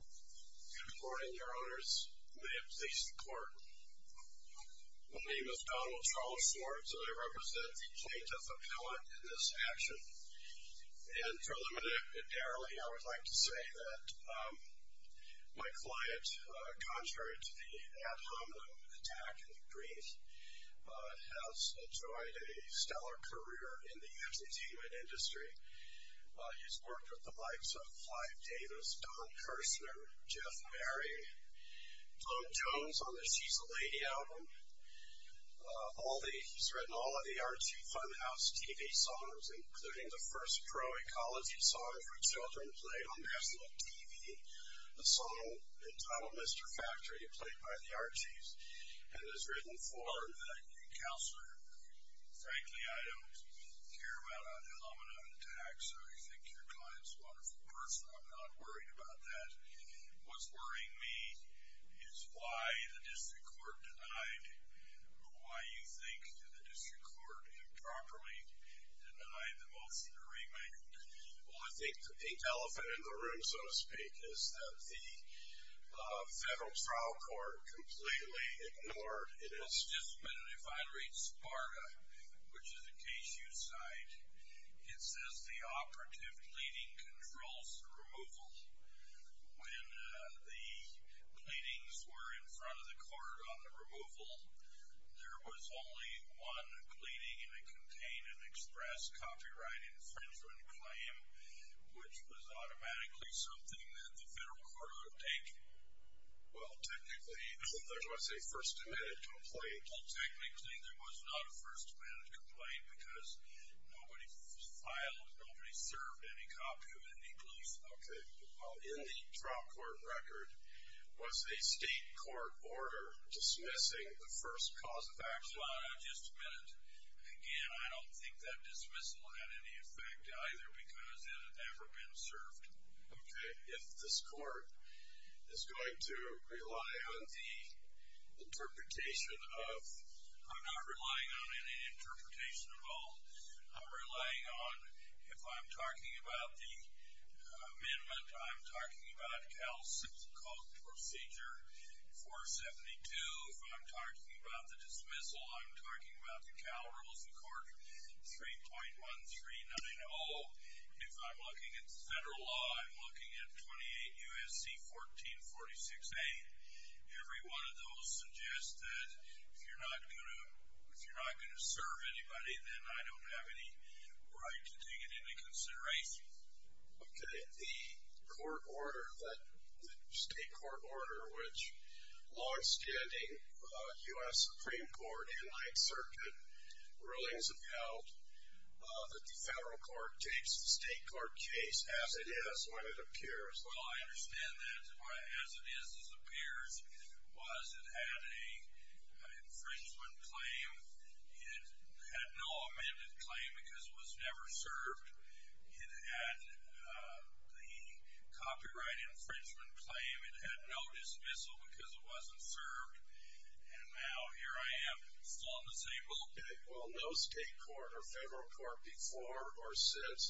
Good morning, your honors. May it please the court. My name is Donald Charles Schwartz, and I represent the plaintiff appellate in this action. And preliminarily, I would like to say that my client, contrary to the ad hominem attack in the brief, has enjoyed a stellar career in the entertainment industry. He's worked with the likes of Clive Davis, Don Kirshner, Jeff Berry, Blo Jones on the She's a Lady album. He's written all of the Archie Funhouse TV songs, including the first pro-ecology song for children played on Mass Look TV, a song entitled Mr. Factory, played by the Archie's, and has written for the counselor. Frankly, I don't care about an ad hominem attack, so I think your client's a wonderful person. I'm not worried about that. What's worrying me is why the district court denied, or why you think the district court improperly denied the motion to remand. Well, I think the pink elephant in the room, so to speak, is that the federal trial court completely ignored it. Well, it's just that if I read SPARTA, which is a case you cite, it says the operative pleading controls the removal. When the pleadings were in front of the court on the removal, there was only one pleading, and it contained an express copyright infringement claim, which was automatically something that the federal court would have taken. Well, technically, there was a first amendment complaint. Well, technically, there was not a first amendment complaint, because nobody filed, nobody served any copy of it, any proof. Okay. Well, in the trial court record, was a state court order dismissing the first cause of action? Well, I'll just admit it. Again, I don't think that dismissal had any effect either, because it had never been served. Okay. If this court is going to rely on the interpretation of... If I'm looking at the federal law, I'm looking at 28 U.S.C. 1446A. Every one of those suggests that if you're not going to serve anybody, then I don't have any right to take it into consideration. Okay. The court order, the state court order, which long-standing U.S. Supreme Court and Ninth Circuit rulings have held, that the federal court takes the state court case as it is when it appears. Well, I understand that. As it is as it appears was it had an infringement claim. It had no amended claim because it was never served. It had the copyright infringement claim. It had no dismissal because it wasn't served. And now, here I am, still on the same boat. Okay. Well, no state court or federal court before or since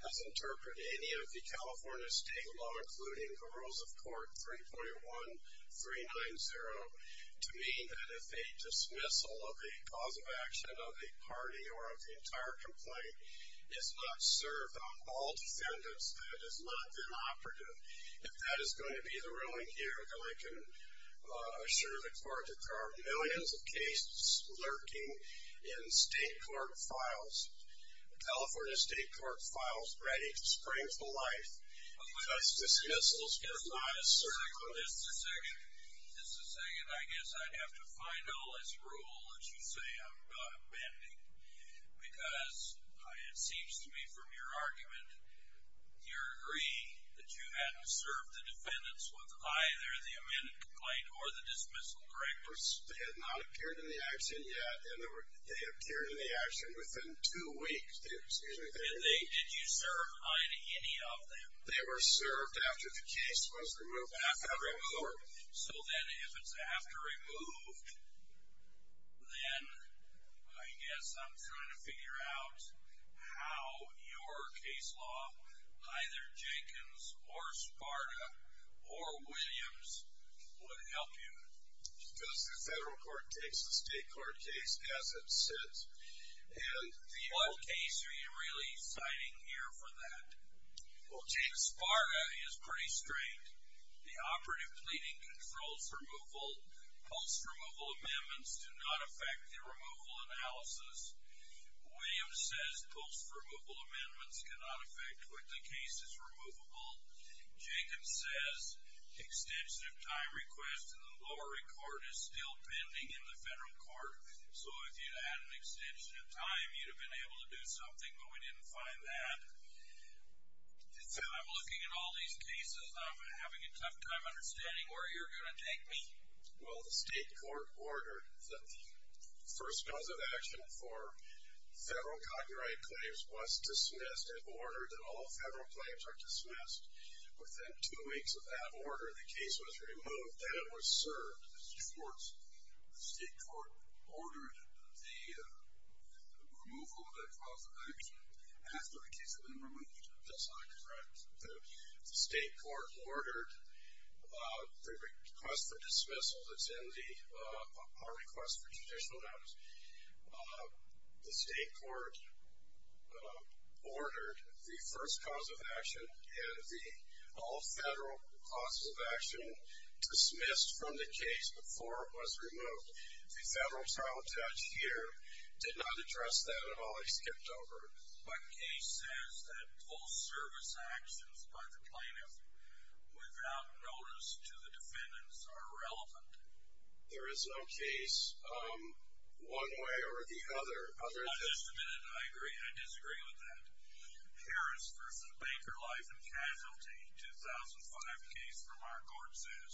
has interpreted any of the California state law, including the rules of court 3.1390, to mean that if a dismissal of a cause of action of a party or of the entire complaint is not served on all defendants, that it has not been operative. If that is going to be the ruling here, then I can assure the court that there are millions of cases lurking in state court files. The California state court files ready to spring to life just dismissals for not serving. Mr. Sagan, I guess I'd have to find all this rule that you say I'm not amending because it seems to me from your argument, you're agreeing that you hadn't served the defendants with either the amended complaint or the dismissal, correct? They had not appeared in the action yet, and they appeared in the action within two weeks. Did you serve on any of them? They were served after the case was removed from the court. So then if it's after removed, then I guess I'm trying to figure out how your case law, either Jenkins or Sparta or Williams, would help you. Because the federal court takes the state court case as it sits. What case are you really citing here for that? Well, Jenkins-Sparta is pretty straight. The operative pleading controls removal. Post-removal amendments do not affect the removal analysis. Williams says post-removal amendments cannot affect what the case is removable. Jenkins says the extension of time request in the Lowery Court is still pending in the federal court. So if you had an extension of time, you'd have been able to do something, but we didn't find that. So I'm looking at all these cases, and I'm having a tough time understanding where you're going to take me. Well, the state court ordered that the first cause of action for federal copyright claims was dismissed. It ordered that all federal claims are dismissed. Within two weeks of that order, the case was removed. Then it was served. The state court ordered the removal of that cause of action after the case had been removed. That's not correct. The state court ordered the request for dismissal that's in the power request for judicial notice. The state court ordered the first cause of action, and the all federal causes of action dismissed from the case before it was removed. The federal trial judge here did not address that at all. He skipped over it. But case says that post-service actions by the plaintiff without notice to the defendants are irrelevant. There is no case. One way or the other. Just a minute. I agree. I disagree with that. Harris v. Baker, Life and Casualty, 2005 case from our court says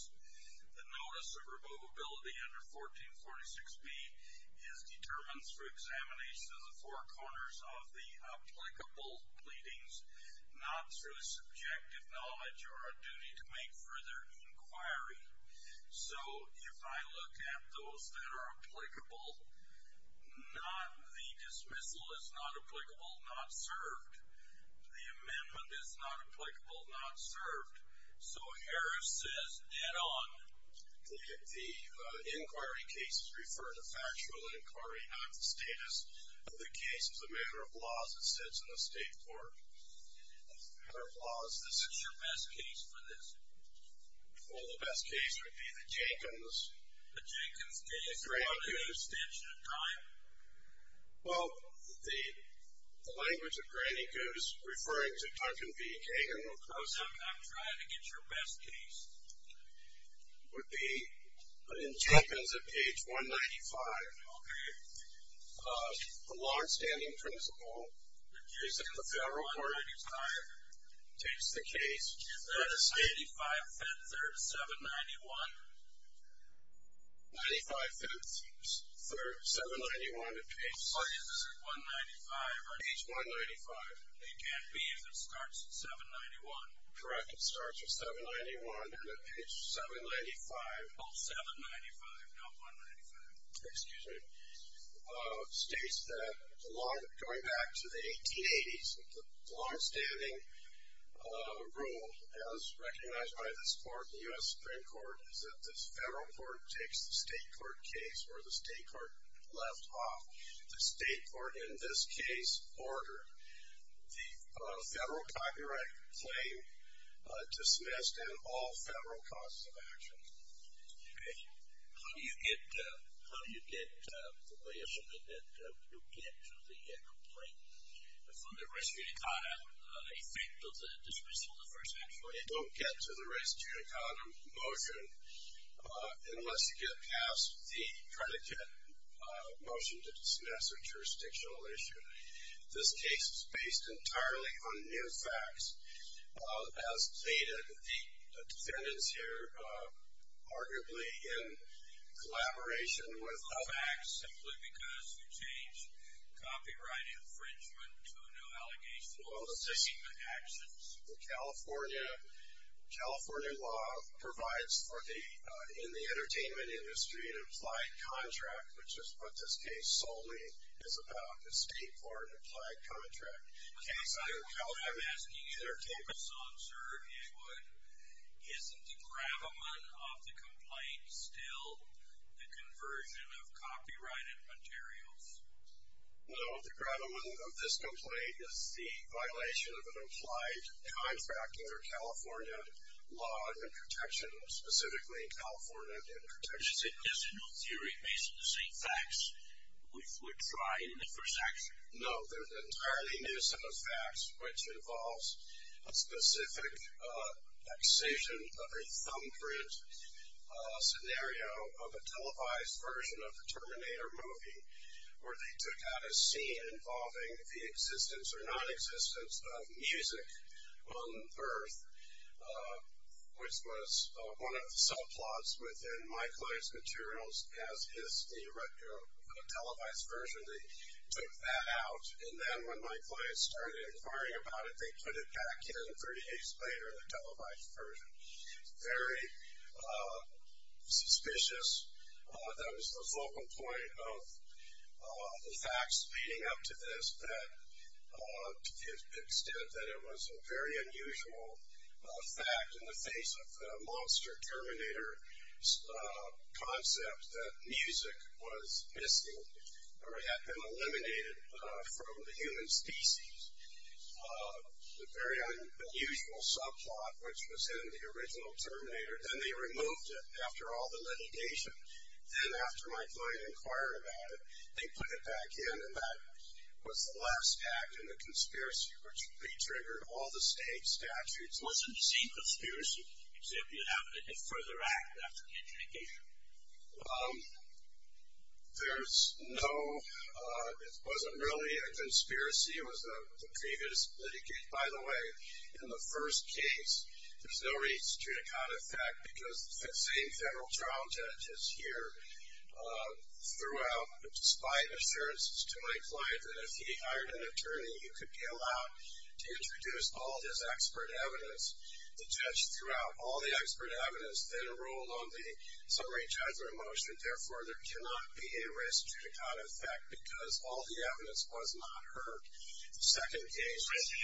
the notice of removability under 1446B is determined through examination of the four corners of the applicable pleadings, not through subjective knowledge or a duty to make further inquiry. So if I look at those that are applicable, the dismissal is not applicable, not served. The amendment is not applicable, not served. So Harris says head on. The inquiry case is referred to factual inquiry, not the status of the case. It's a matter of laws. It sits in the state court. It's a matter of laws. What's your best case for this? Well, the best case would be the Jenkins. The Jenkins case. Granny Goose. Do you want an extension of time? Well, the language of Granny Goose referring to Duncan v. Kagan. We'll close up. I'm trying to get your best case. Would be in Jenkins at page 195. Okay. The law in standing principle. The case in the federal court. 195. Takes the case. That is 85-3-791. 95-3-791 at page 195. It can't be if it starts at 791. Correct. It starts at 791 and at page 795. Oh, 795, not 195. Excuse me. States that going back to the 1880s, the law in standing rule, as recognized by this court, the U.S. Supreme Court, is that this federal court takes the state court case where the state court left off. The state court in this case ordered the federal copyright claim dismissed and all federal causes of action. Okay. How do you get the way of something that you'll get to the complaint? From the res judicata effect of the dismissal of the first act. You don't get to the res judicata motion unless you get past the predicate motion to dismiss a jurisdictional issue. This case is based entirely on new facts. As stated, the defendants here, arguably in collaboration with the facts, simply because you changed copyright infringement to a new allegation of the same actions. The California law provides for the, in the entertainment industry, an implied contract, which is what this case solely is about, the state court implied contract. I'm asking either Capeson, sir, or Inwood, isn't the gravamen of the complaint still the conversion of copyrighted materials? No. The gravamen of this complaint is the violation of an implied contract under California law and protections, specifically California protections. Is it new theory based on the same facts which were tried in the first action? No. There's entirely new set of facts, which involves a specific excision of a thumbprint scenario of a televised version of the Terminator movie where they took out a scene involving the existence or nonexistence of music on birth, which was one of the subplots within my client's materials as a televised version. They took that out, and then when my client started inquiring about it, they put it back in 30 days later in a televised version. Very suspicious. That was the focal point of the facts leading up to this, to the extent that it was a very unusual fact in the face of the monster Terminator concept that music was missing or had been eliminated from the human species. The very unusual subplot which was in the original Terminator, then they removed it after all the litigation. Then after my client inquired about it, they put it back in, and that was the last act in the conspiracy which re-triggered all the state statutes. So it wasn't the same conspiracy, except you had to further act after the litigation. There's no ñ it wasn't really a conspiracy. It was a previous litigation. By the way, in the first case, there's no reason to count it as fact because the same federal trial judge is here throughout. Despite assurances to my client that if he hired an attorney, then you could be allowed to introduce all his expert evidence. The judge threw out all the expert evidence, then it rolled on the summary judgment motion. Therefore, there cannot be a risk to the count of fact because all the evidence was not heard. The second case ñ The question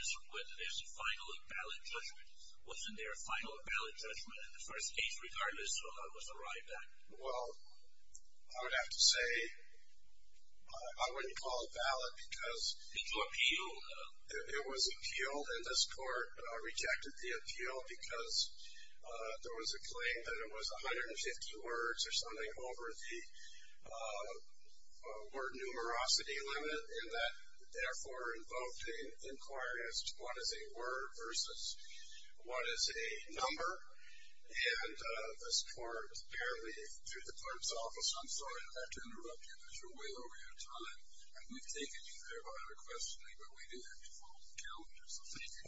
is whether there's a final and valid judgment. Wasn't there a final and valid judgment in the first case regardless of what was arrived at? It was appealed. It was appealed, and this court rejected the appeal because there was a claim that it was 150 words or something over the word-numerosity limit, and that therefore invoked an inquiry as to what is a word versus what is a number. And this court apparently threw the court's office, I'm sorry not to interrupt you, because you're way over your time. And we've taken you there by other questioning, but we do have to follow the calendar. So thank you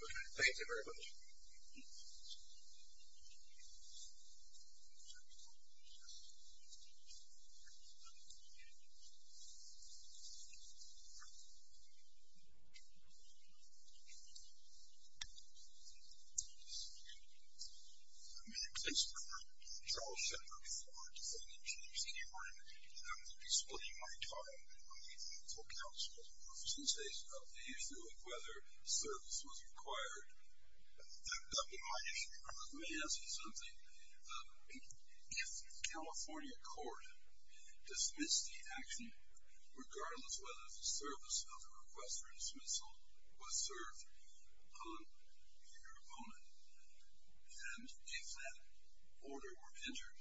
very much. Thank you very much. My name is Christopher. Charles Shepard. Before deciding to choose anyone, I'm going to be splitting my time between the counsels in the case of the issue of whether service was required. My issue with this may ask you something. If California court dismissed the action regardless whether the service of the request for dismissal was served on your opponent, and if that order were entered,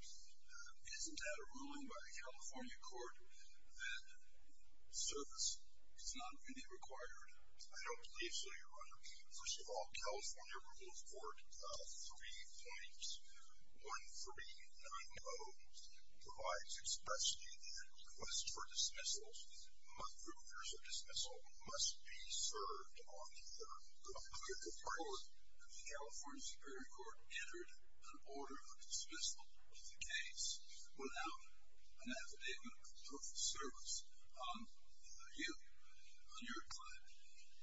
isn't that a ruling by the California court that service is not really required? I don't believe so, Your Honor. First of all, California Rule of Court 3.1390 provides expressly that request for dismissal, must be served on your opponent. The California Superior Court entered an order of dismissal of the case without an affidavit of service on you, on your client.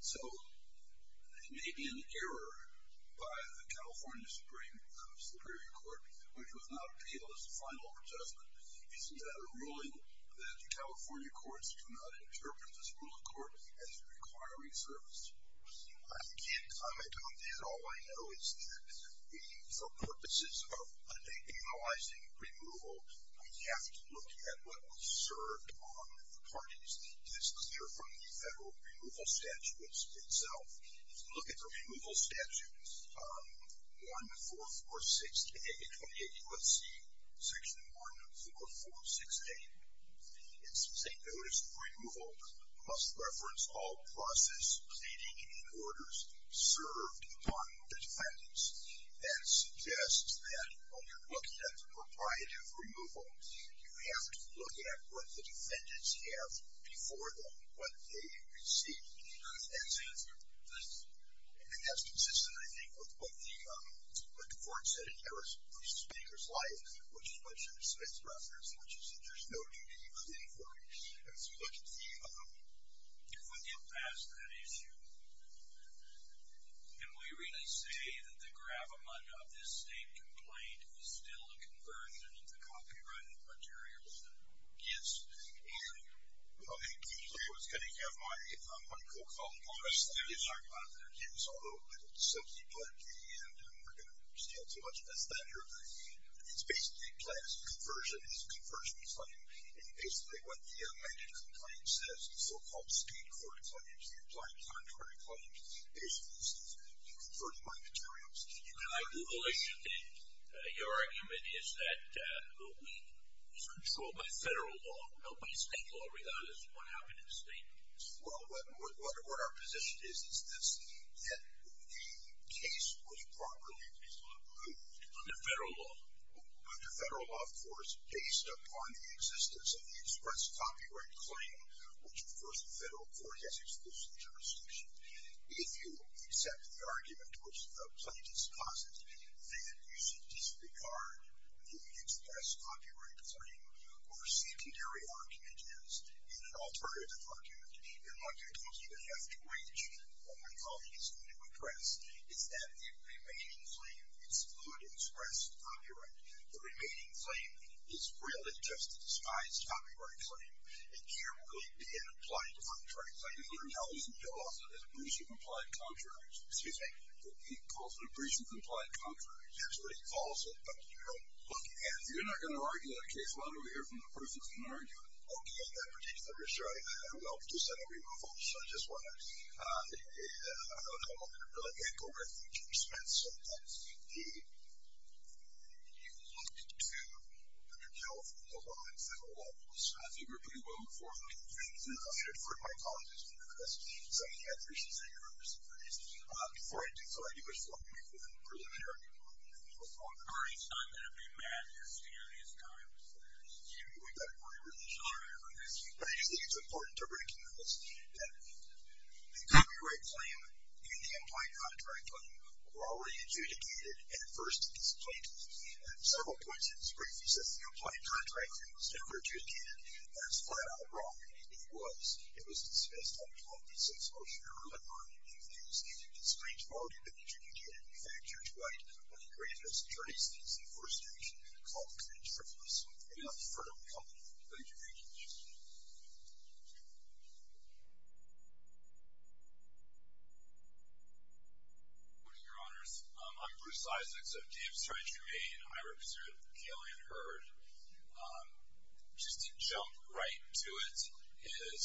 So it may be an error by the California Supreme Superior Court, which was not appealed as a final adjustment. Isn't that a ruling that the California courts do not interpret this rule of court as requiring service? I can't comment on that. All I know is that for purposes of analyzing removal, we have to look at what was served on the parties. It is clear from the federal removal statutes itself. If you look at the removal statutes, 1446A, 28 U.S.C., Section 14416, it's saying notice of removal must reference all process, pleading, and orders served on the defendants. That suggests that when you're looking at the proprietary removal, you have to look at what the defendants have before them, what they received. And that's consistent, I think, with what the court said in Harris v. Baker's life, which is what should have been referenced, which is that there's no duty of the informant. If we get past that issue, can we really say that the gravamunda of this same complaint is still a conversion of the copyrighted materials that Gibbs issued? I was going to have my co-colleague on the stand. He was talking about it. He was a little dissimilar to me, and we're going to understand too much of this later. It's basically a class conversion. It's a conversion claim. It's basically what the management claim says. The so-called state court claims. The implied contrary claims. Basically, you're converting my materials. Can I Google issue it? Your argument is that the week is controlled by federal law. Nobody's state law, regardless of what happened in the state. Well, what our position is, is this, that the case was properly resolved under federal law. Under federal law, of course, based upon the existence of the express copyright claim, which, of course, the federal court has exclusive jurisdiction. If you accept the argument which the plaintiff's causes, then you should disregard the express copyright claim or secondary argument is in an alternative argument. And what you're going to have to reach, what my colleague is going to address, is that the remaining claim is fluid express copyright. The remaining claim is really just a disguised copyright claim, and here will be an implied contrary claim. He calls it an abbreviation of implied contrary. Excuse me? He calls it an abbreviation of implied contrary. That's what he calls it. Look, if you're not going to argue a case, why don't we hear from the person who can argue it? Okay, in that particular case, I will, but just let me move on, so I just want to... I don't have a moment of relevance, but let me go back to the expense of the... You looked to, I mean, California law and federal law. I think we were pretty well informed, and I defer to my colleague who's going to address this, because I think he has reasons that you're going to disagree. Before I do, before I do, I just want to make one preliminary point. I'm not going to be mad at you, Steve, and he's not going to be mad at you. We've got a great relationship. But I just think it's important to recognize that the copyright claim and the implied contrary claim were already adjudicated at first in this case. At several points in this brief, he says the implied contrary claim was never adjudicated. That's flat-out wrong. It was. It was dismissed on 12 December, and it's straightforward. It was adjudicated in fact, Judge White, when he granted us attorney's fees at the first hearing, called it a treacherous and unfriendly company. Thank you. Thank you, Judge. Good morning, Your Honors. I'm Bruce Isaacs. I'm Dave's attorney, Jermaine. I represent Kaylee and Herd. Just to jump right to it is...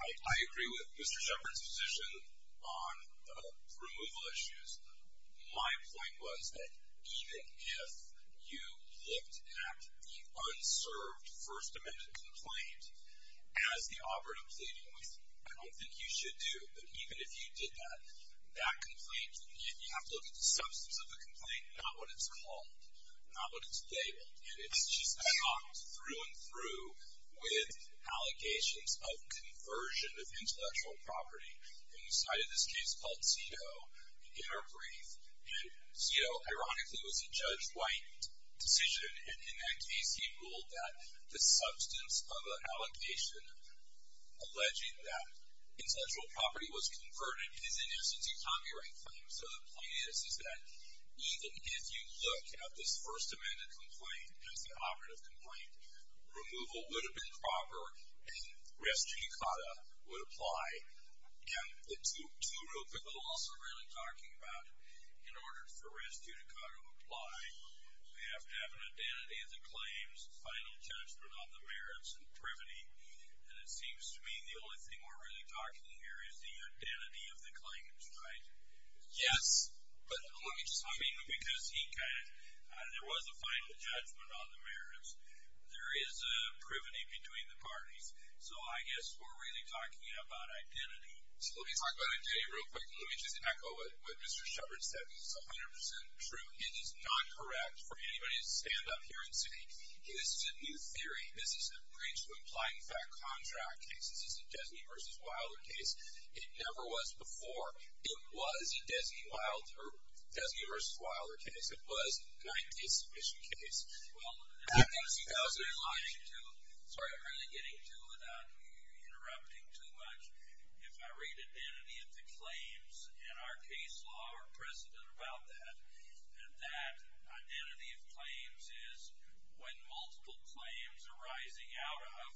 I agree with Mr. Shepard's position on the removal issues. My point was that even if you looked at the unserved First Amendment complaint as the operative pleading with, I don't think you should do, but even if you did that, that complaint, you have to look at the substance of the complaint, not what it's called, not what it's labeled. And it's just talked through and through with allegations of conversion of intellectual property. And we cited this case called Cito in our brief. And Cito, ironically, was a Judge White decision. And in that case, he ruled that the substance of an allegation alleging that intellectual property was converted is, in essence, a copyright claim. So the point is, is that even if you look at this First Amendment complaint as the operative complaint, removal would have been proper, and res judicata would apply. And the two rules that we're also really talking about in order for res judicata to apply, we have to have an identity of the claims, final judgment on the merits, and privity. And it seems to me the only thing we're really talking here is the identity of the claims, right? Yes, but let me just... I mean, because he kind of... Final judgment on the merits. There is a privity between the parties. So I guess we're really talking about identity. So let me talk about identity real quick, and let me just echo what Mr. Shepard said. This is 100% true. It is not correct for anybody to stand up here and say, this is a new theory. This is a breach to implying fact contract case. This is a Desney v. Wilder case. It never was before. It was a Desney v. Wilder case. It was a 90-submission case. Well, I think... Sorry. I'm really getting to it without interrupting too much. If I read identity of the claims in our case law, or precedent about that, that identity of claims is when multiple claims arising out of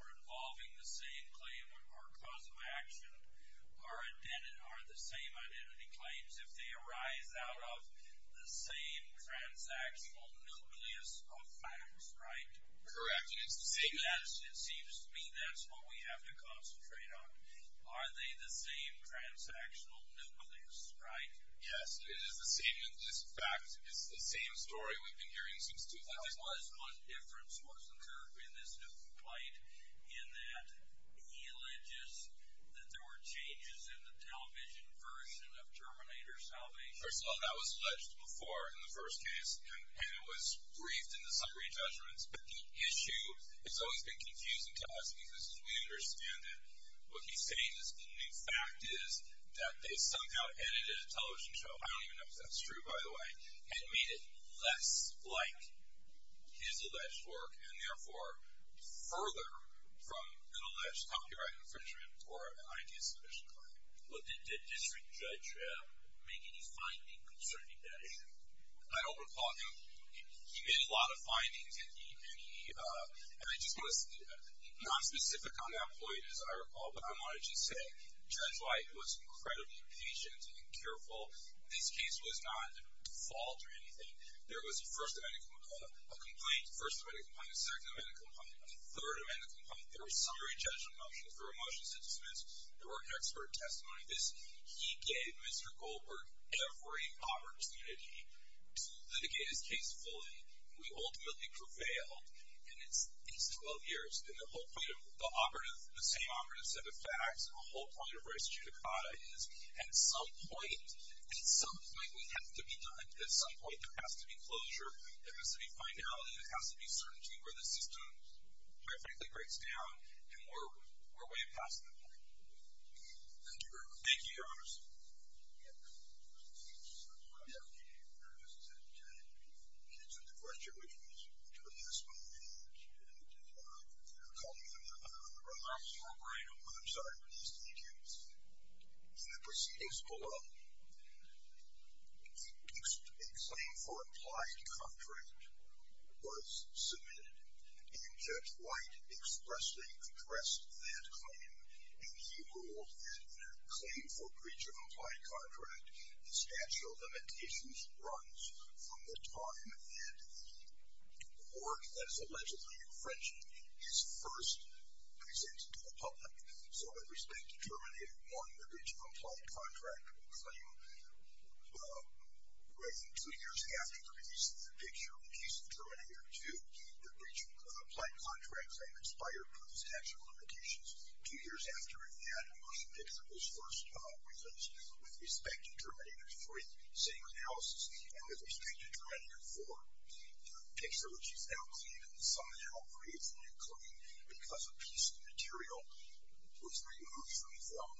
or involving the same claim or cause of action are the same identity claims. If they arise out of the same transactional nucleus of facts, right? Correct. And it's the same... It seems to me that's what we have to concentrate on. Are they the same transactional nucleus, right? Yes. It is the same. This fact is the same story we've been hearing since 2001. There was one difference, wasn't there, in this new plight in that eligious, that there were changes in the television version of Terminator Salvation? First of all, that was alleged before in the first case, and it was briefed in the summary judgments. But the issue has always been confusing to us because, as we understand it, what he's saying is that the fact is that they somehow edited a television show I don't even know if that's true, by the way, and made it less like his alleged work, and therefore further from an alleged copyright infringement or an idea submission claim. Well, did District Judge make any findings concerning that issue? I don't recall him... He made a lot of findings, and he... And I just want to... Not specific on that point, as I recall, but I wanted to say Judge White was incredibly patient and careful. This case was not at fault or anything. There was a first amendment complaint, a first amendment complaint, a second amendment complaint, a third amendment complaint. There were summary judgment motions. There were motions to dismiss. There were expert testimony. He gave Mr. Goldberg every opportunity to litigate his case fully, and we ultimately prevailed in these 12 years. And the whole point of the same operative set of facts and the whole point of res judicata is, at some point, at some point, we have to be done. At some point, there has to be closure. There has to be finality. There has to be certainty where the system perfectly breaks down and we're way past that point. Thank you, Your Honor. Thank you, Your Honor. Thank you. I just want to say, again, in answer to the question, which was to the best of my knowledge, and calling the remarks more bright and warm, I'm sorry for those details. In the proceedings below, a claim for implied contract was submitted, and Judge White expressly addressed that claim, and he ruled that in a claim for breach of implied contract, the statute of limitations runs from the time that the court that is allegedly infringing is first presented to the public. So, with respect to Terminator 1, the breach of implied contract claim ran two years after the release of the picture in case of Terminator 2. The breach of implied contract claim expired per the statute of limitations two years after, and that motion picture was first released. With respect to Terminator 3, same analysis, and with respect to Terminator 4, the picture, which is now clean and somehow free, because a piece of material was removed from the film,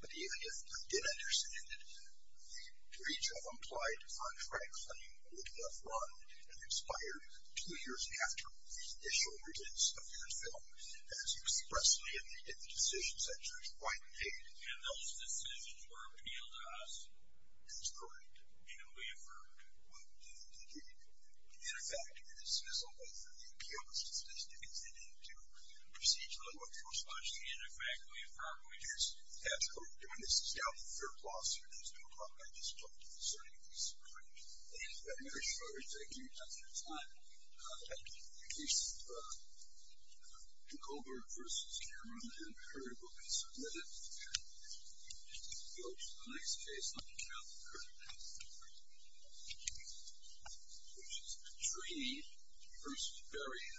but even if I did understand it, the breach of implied contract claim would have run and expired two years after the initial release of that film, as expressedly in the decision that Judge White made. And those decisions were appealed to us. And we have heard. We have heard, indeed. And, in fact, this is a way for the appeals justice to continue to proceed to the level of force, which, in fact, we have heard over the years. And that's what we're doing. This is now the third lawsuit, and it's been called by this court concerning the Supreme Court. And I'm very sure it's taking much more time. I think the case of Goldberg versus Cameron, I haven't heard of a case of that. So, in the next case, let me count the current cases. Which is three versus three.